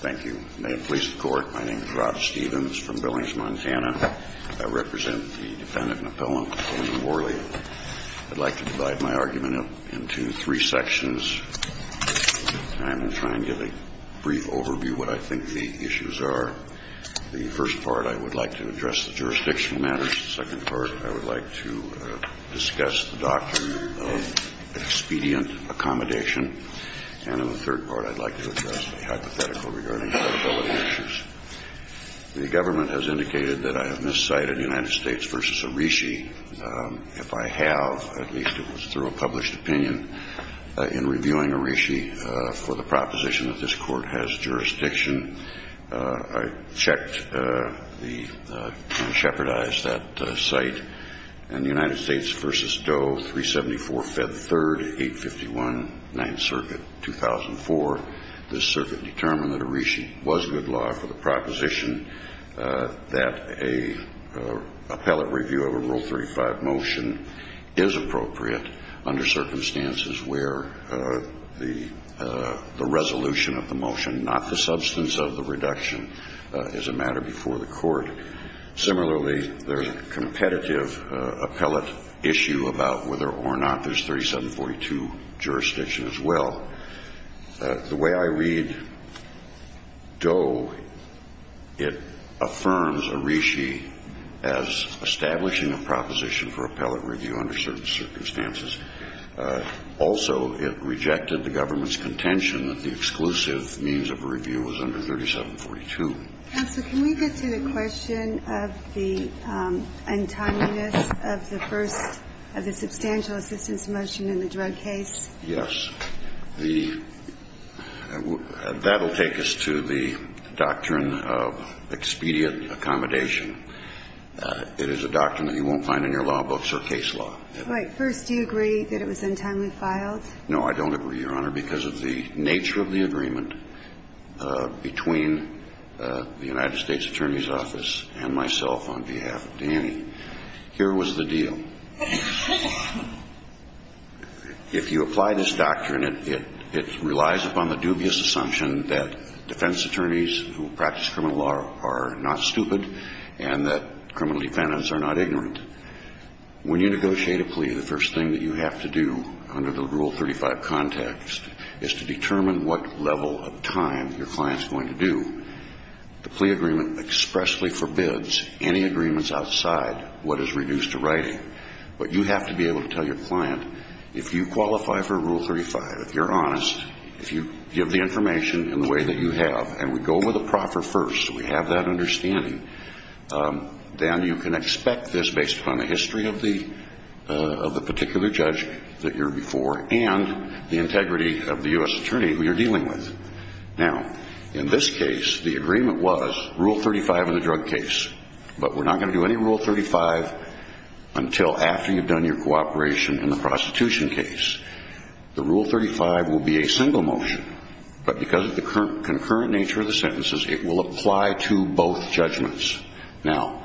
Thank you. May it please the Court, my name is Rob Stephens from Billings, Montana. I represent the defendant and appellant, William Worley. I'd like to divide my argument into three sections, and I will try and give a brief overview of what I think the issues are. The first part, I would like to address the jurisdictional matters. The second part, I would like to discuss the doctrine of expedient accommodation. And in the third part, I'd like to address the hypothetical regarding credibility issues. The government has indicated that I have miscited United States v. Arishi. If I have, at least it was through a published opinion, in reviewing Arishi for the proposition that this Court has jurisdiction, I checked and shepherdized that site. In the United States v. Doe, 374 Fed 3rd, 851 9th Circuit, 2004, this circuit determined that Arishi was good law for the proposition that an appellate review of a Rule 35 motion is appropriate under circumstances where the resolution of the motion, not the substance of the reduction, is a matter before the Court. Similarly, there's a competitive appellate issue about whether or not there's 3742 jurisdiction as well. The way I read Doe, it affirms Arishi as establishing a proposition for appellate review under certain circumstances. Also, it rejected the government's contention that the exclusive means of review was under 3742. Counsel, can we get to the question of the untimeliness of the first of the substantial assistance motion in the drug case? Yes. That will take us to the doctrine of expedient accommodation. It is a doctrine that you won't find in your law books or case law. Right. First, do you agree that it was untimely filed? No, I don't agree, Your Honor, because of the nature of the agreement between the United States Attorney's Office and myself on behalf of Danny. Here was the deal. If you apply this doctrine, it relies upon the dubious assumption that defense attorneys who practice criminal law are not stupid and that criminal defendants are not ignorant. When you negotiate a plea, the first thing that you have to do under the Rule 35 context is to determine what level of time your client is going to do. The plea agreement expressly forbids any agreements outside what is reduced to writing. But you have to be able to tell your client, if you qualify for Rule 35, if you're honest, if you give the information in the way that you have, and we go with the proffer first, so we have that understanding, then you can expect this based upon the history of the particular judge that you're before and the integrity of the U.S. attorney who you're dealing with. Now, in this case, the agreement was Rule 35 in the drug case. But we're not going to do any Rule 35 until after you've done your cooperation in the prostitution case. The Rule 35 will be a single motion. But because of the concurrent nature of the sentences, it will apply to both judgments. Now,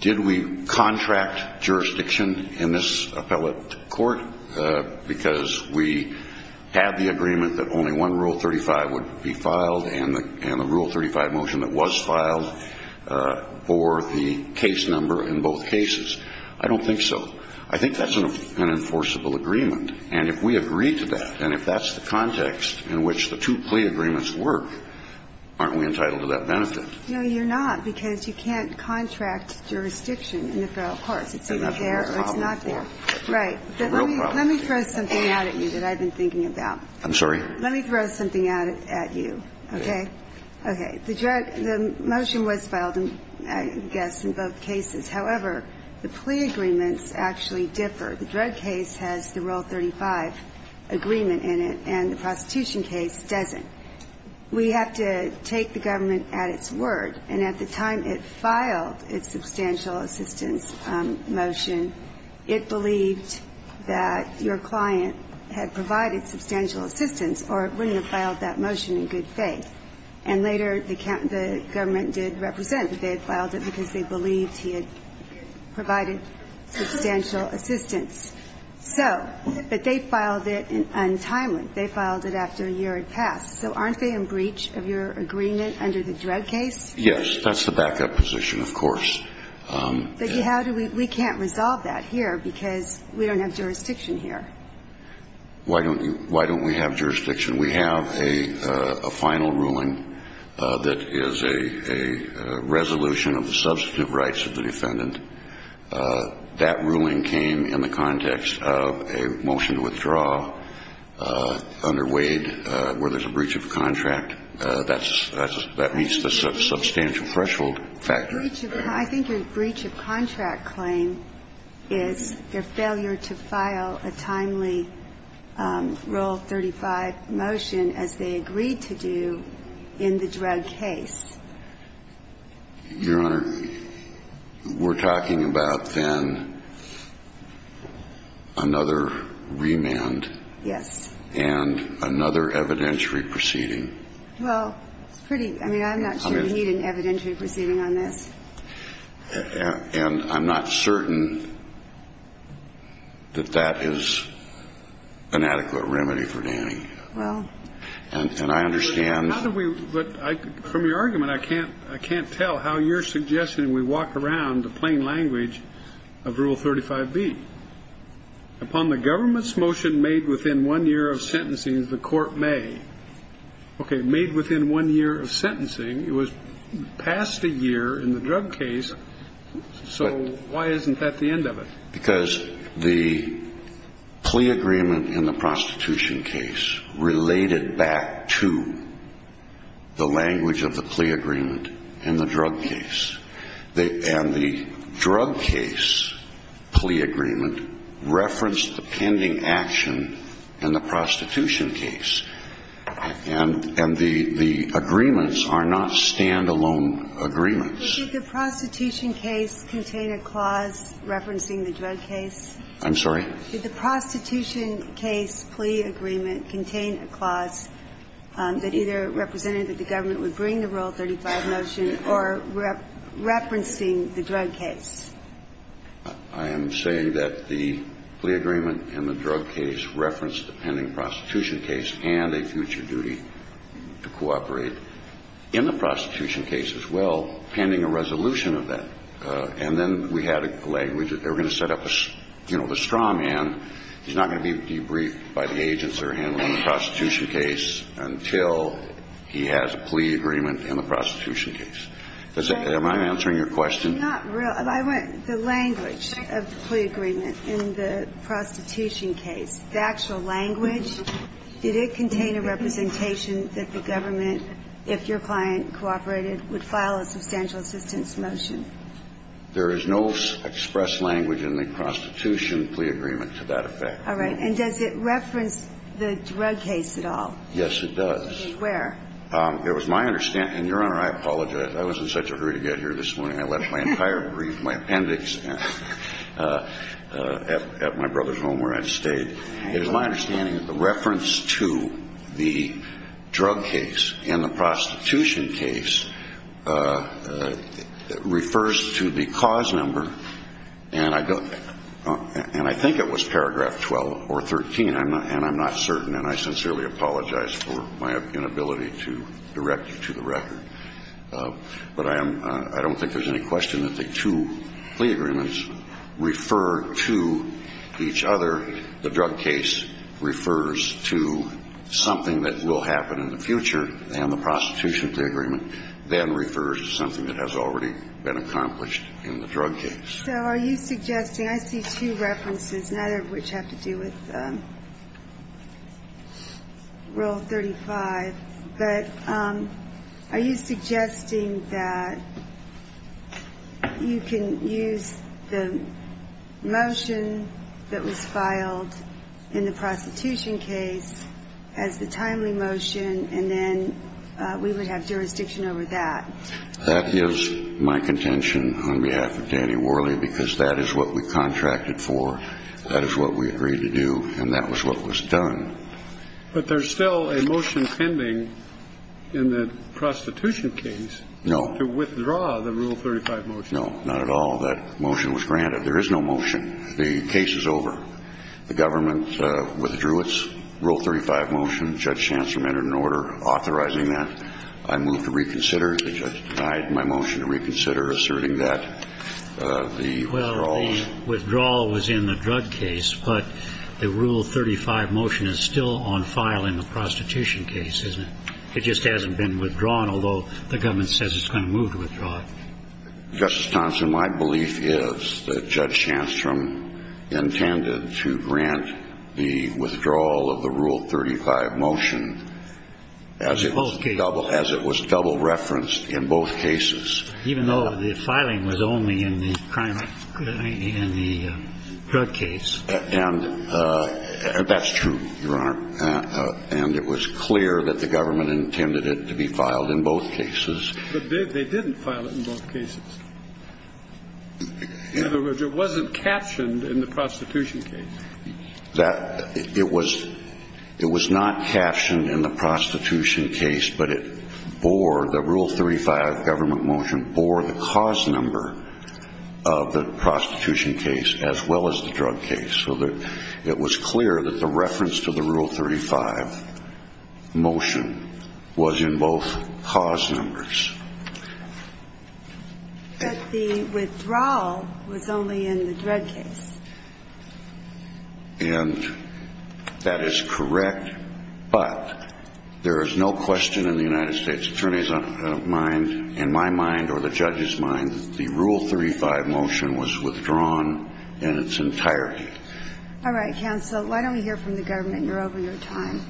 did we contract jurisdiction in this appellate court because we had the agreement that only one Rule 35 would be filed and the Rule 35 motion that was filed for the case number in both cases? I don't think so. I think that's an enforceable agreement. And if we agree to that, and if that's the context in which the two plea agreements work, aren't we entitled to that benefit? No, you're not, because you can't contract jurisdiction in the federal courts. It's either there or it's not there. Right. Let me throw something out at you that I've been thinking about. I'm sorry? Let me throw something out at you, okay? Okay. The motion was filed, I guess, in both cases. However, the plea agreements actually differ. The drug case has the Rule 35 agreement in it, and the prostitution case doesn't. We have to take the government at its word. And at the time it filed its substantial assistance motion, it believed that your client had provided substantial assistance or it wouldn't have filed that motion in good faith. And later the government did represent that they had filed it because they believed he had provided substantial assistance. So, but they filed it untimely. They filed it after a year had passed. So aren't they in breach of your agreement under the drug case? Yes. That's the backup position, of course. But how do we we can't resolve that here, because we don't have jurisdiction here. Why don't we have jurisdiction? We have a final ruling that is a resolution of the substitute rights of the defendant. That ruling came in the context of a motion to withdraw under Wade where there's a breach of contract. That meets the substantial threshold factor. I think your breach of contract claim is their failure to file a timely Rule 35 motion as they agreed to do in the drug case. Your Honor, we're talking about then another remand. Yes. And another evidentiary proceeding. Well, it's pretty, I mean, I'm not sure we need an evidentiary proceeding on this. And I'm not certain that that is an adequate remedy for Danny. Well. And I understand. How do we, from your argument, I can't tell how you're suggesting we walk around the plain language of Rule 35B. Upon the government's motion made within one year of sentencing, the court may. Okay. Made within one year of sentencing. It was past a year in the drug case. So why isn't that the end of it? Because the plea agreement in the prostitution case related back to the language of the plea agreement in the drug case. And the drug case plea agreement referenced the pending action in the prostitution case. And the agreements are not standalone agreements. Did the prostitution case contain a clause referencing the drug case? I'm sorry? Did the prostitution case plea agreement contain a clause that either represented that the government would bring the Rule 35 motion or referencing the drug case? I am saying that the plea agreement in the drug case referenced the pending prostitution case and a future duty to cooperate. In the prostitution case as well, pending a resolution of that. And then we had a language that they were going to set up a, you know, the straw man. He's not going to be debriefed by the agents that are handling the prostitution case until he has a plea agreement in the prostitution case. Am I answering your question? It's not real. The language of the plea agreement in the prostitution case, the actual language, did it contain a representation that the government, if your client cooperated, would file a substantial assistance motion? There is no express language in the prostitution plea agreement to that effect. All right. And does it reference the drug case at all? Yes, it does. Where? It was my understanding. Your Honor, I apologize. I was in such a hurry to get here this morning. I left my entire brief, my appendix at my brother's home where I stayed. It was my understanding that the reference to the drug case in the prostitution case refers to the cause number. And I think it was paragraph 12 or 13, and I'm not certain. And I sincerely apologize for my inability to direct you to the record. But I don't think there's any question that the two plea agreements refer to each other. The drug case refers to something that will happen in the future, and the prostitution plea agreement then refers to something that has already been accomplished in the drug case. So are you suggesting, I see two references, neither of which have to do with Rule 35. But are you suggesting that you can use the motion that was filed in the prostitution case as the timely motion, and then we would have jurisdiction over that? That is my contention on behalf of Danny Worley, because that is what we contracted for, that is what we agreed to do, and that was what was done. But there's still a motion pending in the prostitution case. No. To withdraw the Rule 35 motion. No, not at all. That motion was granted. There is no motion. The case is over. The government withdrew its Rule 35 motion. Judge Chancellor made an order authorizing that. I moved to reconsider. The judge denied my motion to reconsider, asserting that the withdrawal was. In the drug case, but the Rule 35 motion is still on file in the prostitution case, isn't it? It just hasn't been withdrawn, although the government says it's going to move to withdraw it. Justice Thomson, my belief is that Judge Chancellor intended to grant the withdrawal of the Rule 35 motion as it was double referenced in both cases. And that's true, Your Honor. And it was clear that the government intended it to be filed in both cases. But they didn't file it in both cases. In other words, it wasn't captioned in the prostitution case. It was not captioned in the prostitution case, but it bore, the Rule 35 government motion, bore the cause number of the prostitution case as well as the drug case. So it was clear that the reference to the Rule 35 motion was in both cause numbers. But the withdrawal was only in the drug case. And that is correct, but there is no question in the United States Attorney's mind, in my mind or the judge's mind, that the Rule 35 motion was withdrawn in its entirety. All right, counsel, why don't we hear from the government? You're over your time.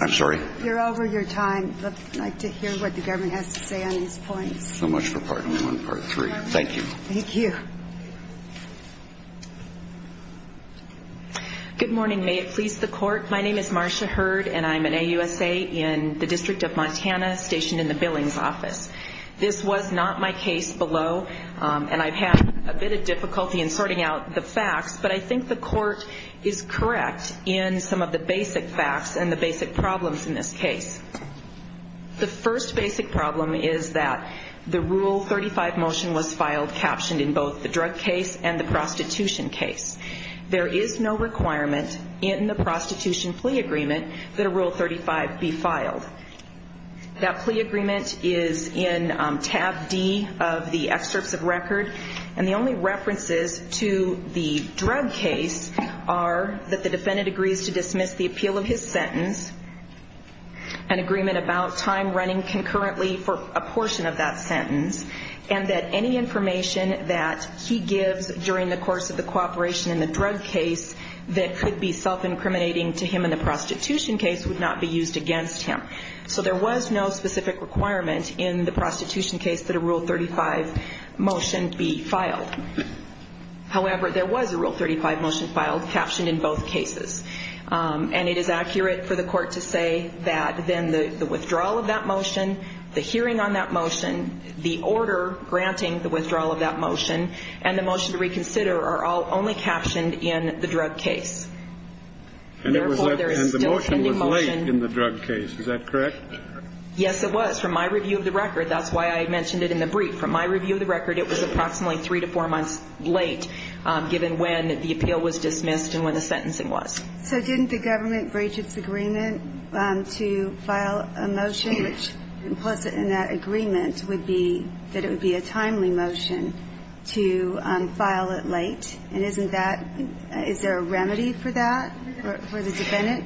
I'm sorry? You're over your time. But I'd like to hear what the government has to say on these points. So much for Part 1 and Part 3. Thank you. Thank you. Good morning. May it please the Court. My name is Marcia Hurd, and I'm an AUSA in the District of Montana, stationed in the Billings office. This was not my case below, and I've had a bit of difficulty in sorting out the facts, but I think the Court is correct in some of the basic facts and the basic problems in this case. The first basic problem is that the Rule 35 motion was filed, captioned in both the drug case and the prostitution case. There is no requirement in the prostitution plea agreement that a Rule 35 be filed. That plea agreement is in tab D of the excerpts of record, and the only references to the drug case are that the defendant agrees to dismiss the appeal of his sentence, an agreement about time running concurrently for a portion of that sentence, and that any information that he gives during the course of the cooperation in the drug case that could be self-incriminating to him in the prostitution case would not be used against him. So there was no specific requirement in the prostitution case that a Rule 35 motion be filed. However, there was a Rule 35 motion filed, captioned in both cases, and it is accurate for the Court to say that then the withdrawal of that motion, the hearing on that motion, the order granting the withdrawal of that motion, and the motion to reconsider are all only captioned in the drug case. And therefore, there is still a pending motion. And the motion was late in the drug case. Is that correct? Yes, it was. From my review of the record, that's why I mentioned it in the brief. From my review of the record, it was approximately three to four months late, given when the appeal was dismissed and when the sentencing was. So didn't the government breach its agreement to file a motion, which implicit in that agreement would be that it would be a timely motion to file it late? And isn't that – is there a remedy for that for the defendant?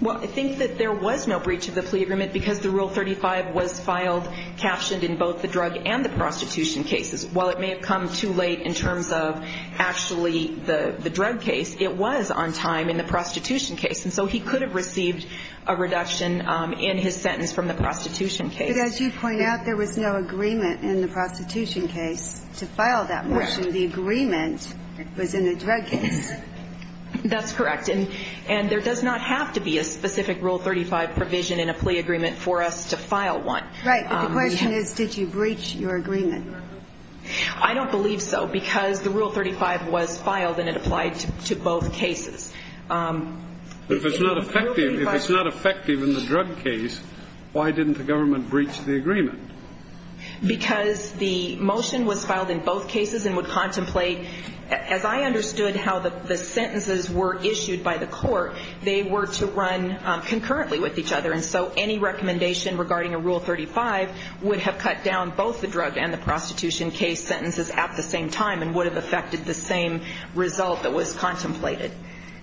Well, I think that there was no breach of the plea agreement because the Rule 35 was filed, captioned in both the drug and the prostitution cases. While it may have come too late in terms of actually the drug case, it was on time in the prostitution case. And so he could have received a reduction in his sentence from the prostitution case. But as you point out, there was no agreement in the prostitution case to file that motion. The agreement was in the drug case. That's correct. And there does not have to be a specific Rule 35 provision in a plea agreement for us to file one. Right. But the question is, did you breach your agreement? I don't believe so because the Rule 35 was filed and it applied to both cases. If it's not effective in the drug case, why didn't the government breach the agreement? Because the motion was filed in both cases and would contemplate, as I understood how the sentences were issued by the court, they were to run concurrently with each other. And so any recommendation regarding a Rule 35 would have cut down both the drug and the prostitution case sentences at the same time and would have affected the same result that was contemplated.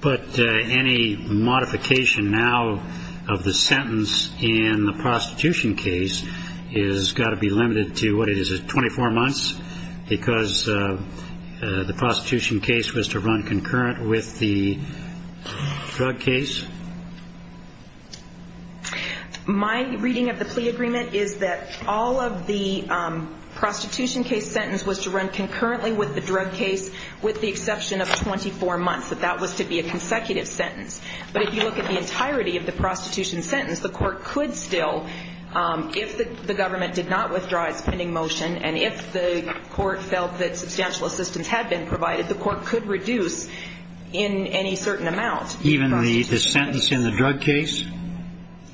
But any modification now of the sentence in the prostitution case has got to be limited to, what is it, 24 months because the prostitution case was to run concurrent with the drug case? My reading of the plea agreement is that all of the prostitution case sentence was to run concurrently with the drug case with the exception of 24 months, that that was to be a consecutive sentence. But if you look at the entirety of the prostitution sentence, the court could still, if the government did not withdraw its pending motion and if the court felt that substantial assistance had been provided, the court could reduce in any certain amount the prostitution case. Even the sentence in the drug case?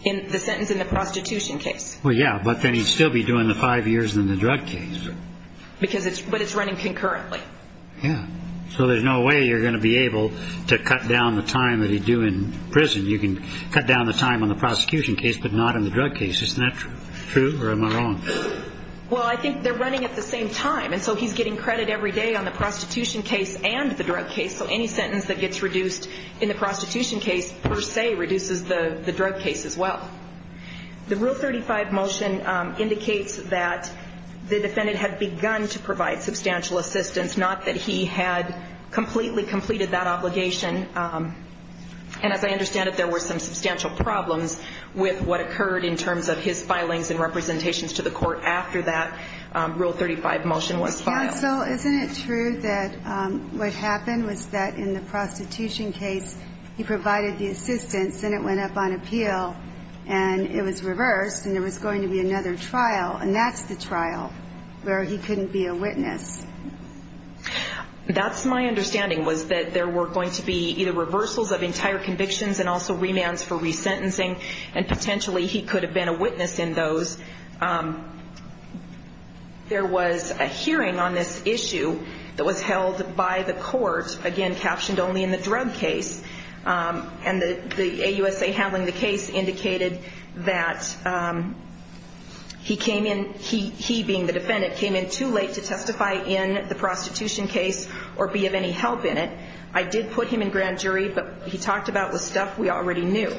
The sentence in the prostitution case. Well, yeah, but then he'd still be doing the five years in the drug case. But it's running concurrently. Yeah. So there's no way you're going to be able to cut down the time that he'd do in prison. You can cut down the time on the prosecution case but not on the drug case. Isn't that true or am I wrong? Well, I think they're running at the same time. And so he's getting credit every day on the prostitution case and the drug case. So any sentence that gets reduced in the prostitution case per se reduces the drug case as well. The Rule 35 motion indicates that the defendant had begun to provide substantial assistance, not that he had completely completed that obligation. And as I understand it, there were some substantial problems with what occurred in terms of his filings and representations to the court after that Rule 35 motion was filed. Counsel, isn't it true that what happened was that in the prostitution case, he provided the assistance and it went up on appeal and it was reversed and there was going to be another trial, and that's the trial where he couldn't be a witness. That's my understanding was that there were going to be either reversals of entire convictions and also remands for resentencing and potentially he could have been a witness in those. There was a hearing on this issue that was held by the court, again, captioned only in the drug case, and the AUSA handling the case indicated that he came in, he being the defendant, came in too late to testify in the prostitution case or be of any help in it. I did put him in grand jury, but he talked about the stuff we already knew.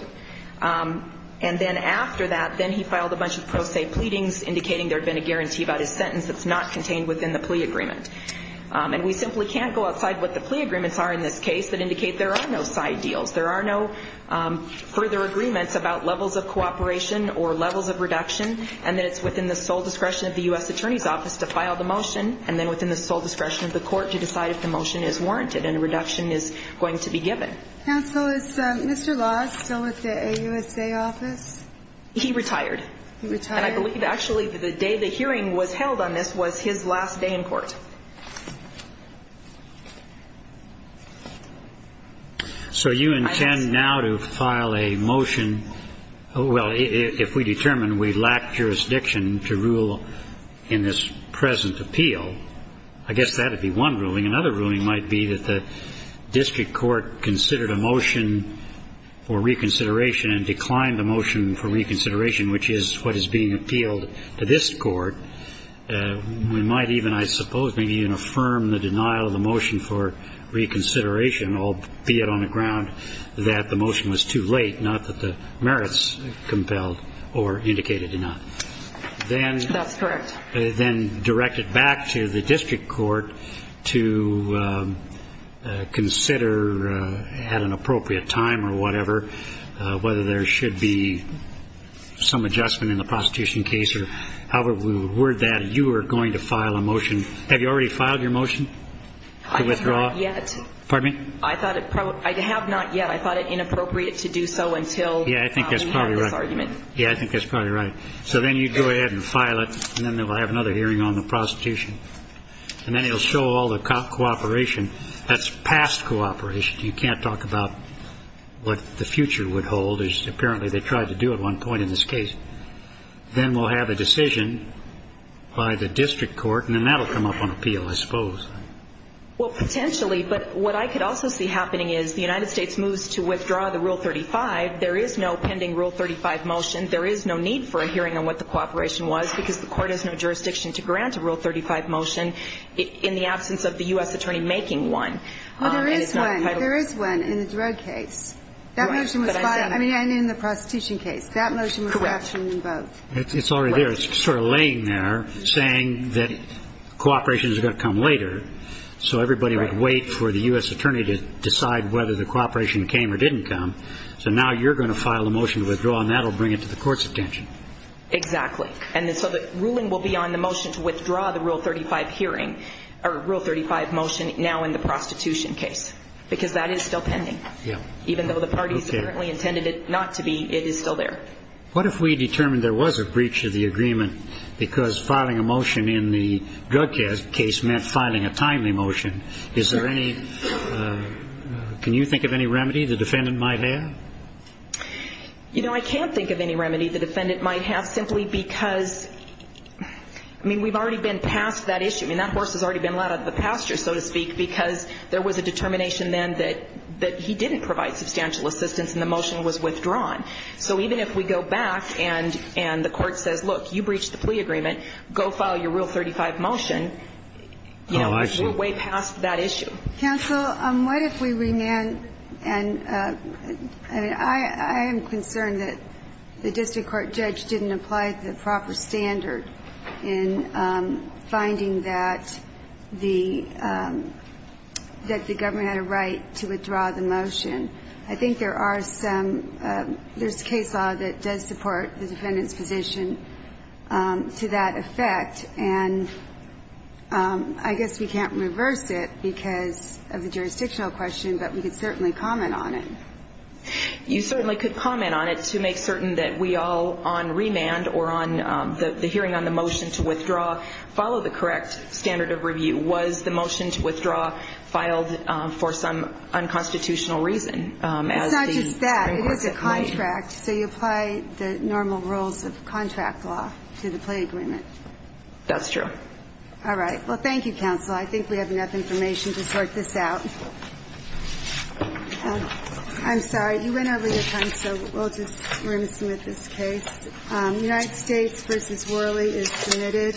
And then after that, then he filed a bunch of pro se pleadings indicating there had been a guarantee about his sentence that's not contained within the plea agreement. And we simply can't go outside what the plea agreements are in this case that indicate there are no side deals. There are no further agreements about levels of cooperation or levels of reduction and that it's within the sole discretion of the U.S. Attorney's Office to file the motion and then within the sole discretion of the court to decide if the motion is warranted and a reduction is going to be given. Counsel, is Mr. Loss still with the AUSA Office? He retired. He retired? And I believe actually the day the hearing was held on this was his last day in court. So you intend now to file a motion, Well, if we determine we lack jurisdiction to rule in this present appeal, I guess that would be one ruling. Another ruling might be that the district court considered a motion for reconsideration and declined the motion for reconsideration, which is what is being appealed to this court. We might even, I suppose, maybe even affirm the denial of the motion for reconsideration, albeit on the ground that the motion was too late, not that the merits compelled or indicated it not. That's correct. Then direct it back to the district court to consider at an appropriate time or whatever whether there should be some adjustment in the prostitution case or however we would word that you are going to file a motion. Have you already filed your motion to withdraw? I have not yet. Pardon me? I have not yet. I thought it inappropriate to do so until we have this argument. Yeah, I think that's probably right. Yeah, I think that's probably right. So then you go ahead and file it, and then they will have another hearing on the prostitution. And then it will show all the cooperation. That's past cooperation. You can't talk about what the future would hold, as apparently they tried to do at one point in this case. Then we'll have a decision by the district court, and then that will come up on appeal, I suppose. Well, potentially, but what I could also see happening is the United States moves to withdraw the Rule 35. There is no pending Rule 35 motion. There is no need for a hearing on what the cooperation was because the court has no jurisdiction to grant a Rule 35 motion in the absence of the U.S. attorney making one. Well, there is one. There is one in the drug case. That motion was filed in the prostitution case. That motion was actually invoked. Correct. It's already there. It's sort of laying there, saying that cooperation is going to come later. So everybody would wait for the U.S. attorney to decide whether the cooperation came or didn't come. So now you're going to file a motion to withdraw, and that will bring it to the court's attention. Exactly. And so the ruling will be on the motion to withdraw the Rule 35 hearing or Rule 35 motion now in the prostitution case because that is still pending. Even though the parties apparently intended it not to be, it is still there. What if we determined there was a breach of the agreement because filing a motion in the drug case meant filing a timely motion? Is there any ñ can you think of any remedy the defendant might have? You know, I can't think of any remedy the defendant might have simply because, I mean, we've already been past that issue. I mean, that horse has already been let out of the pasture, so to speak, because there was a determination then that he didn't provide substantial assistance and the motion was withdrawn. So even if we go back and the court says, look, you breached the plea agreement, go file your Rule 35 motion, you know, we're way past that issue. Counsel, what if we remand ñ and I am concerned that the district court judge didn't apply the proper standard in finding that the government had a right to withdraw the motion. I think there are some ñ there's case law that does support the defendant's position to that effect, and I guess we can't reverse it because of the jurisdictional question, but we could certainly comment on it. You certainly could comment on it to make certain that we all, on remand or on the hearing on the motion to withdraw, follow the correct standard of review. Was the motion to withdraw filed for some unconstitutional reason? It's not just that. It is a contract, so you apply the normal rules of contract law to the plea agreement. That's true. All right. Well, thank you, Counsel. I think we have enough information to sort this out. I'm sorry. You went over your time, so we'll just ñ we're going to submit this case. United States v. Worley is submitted.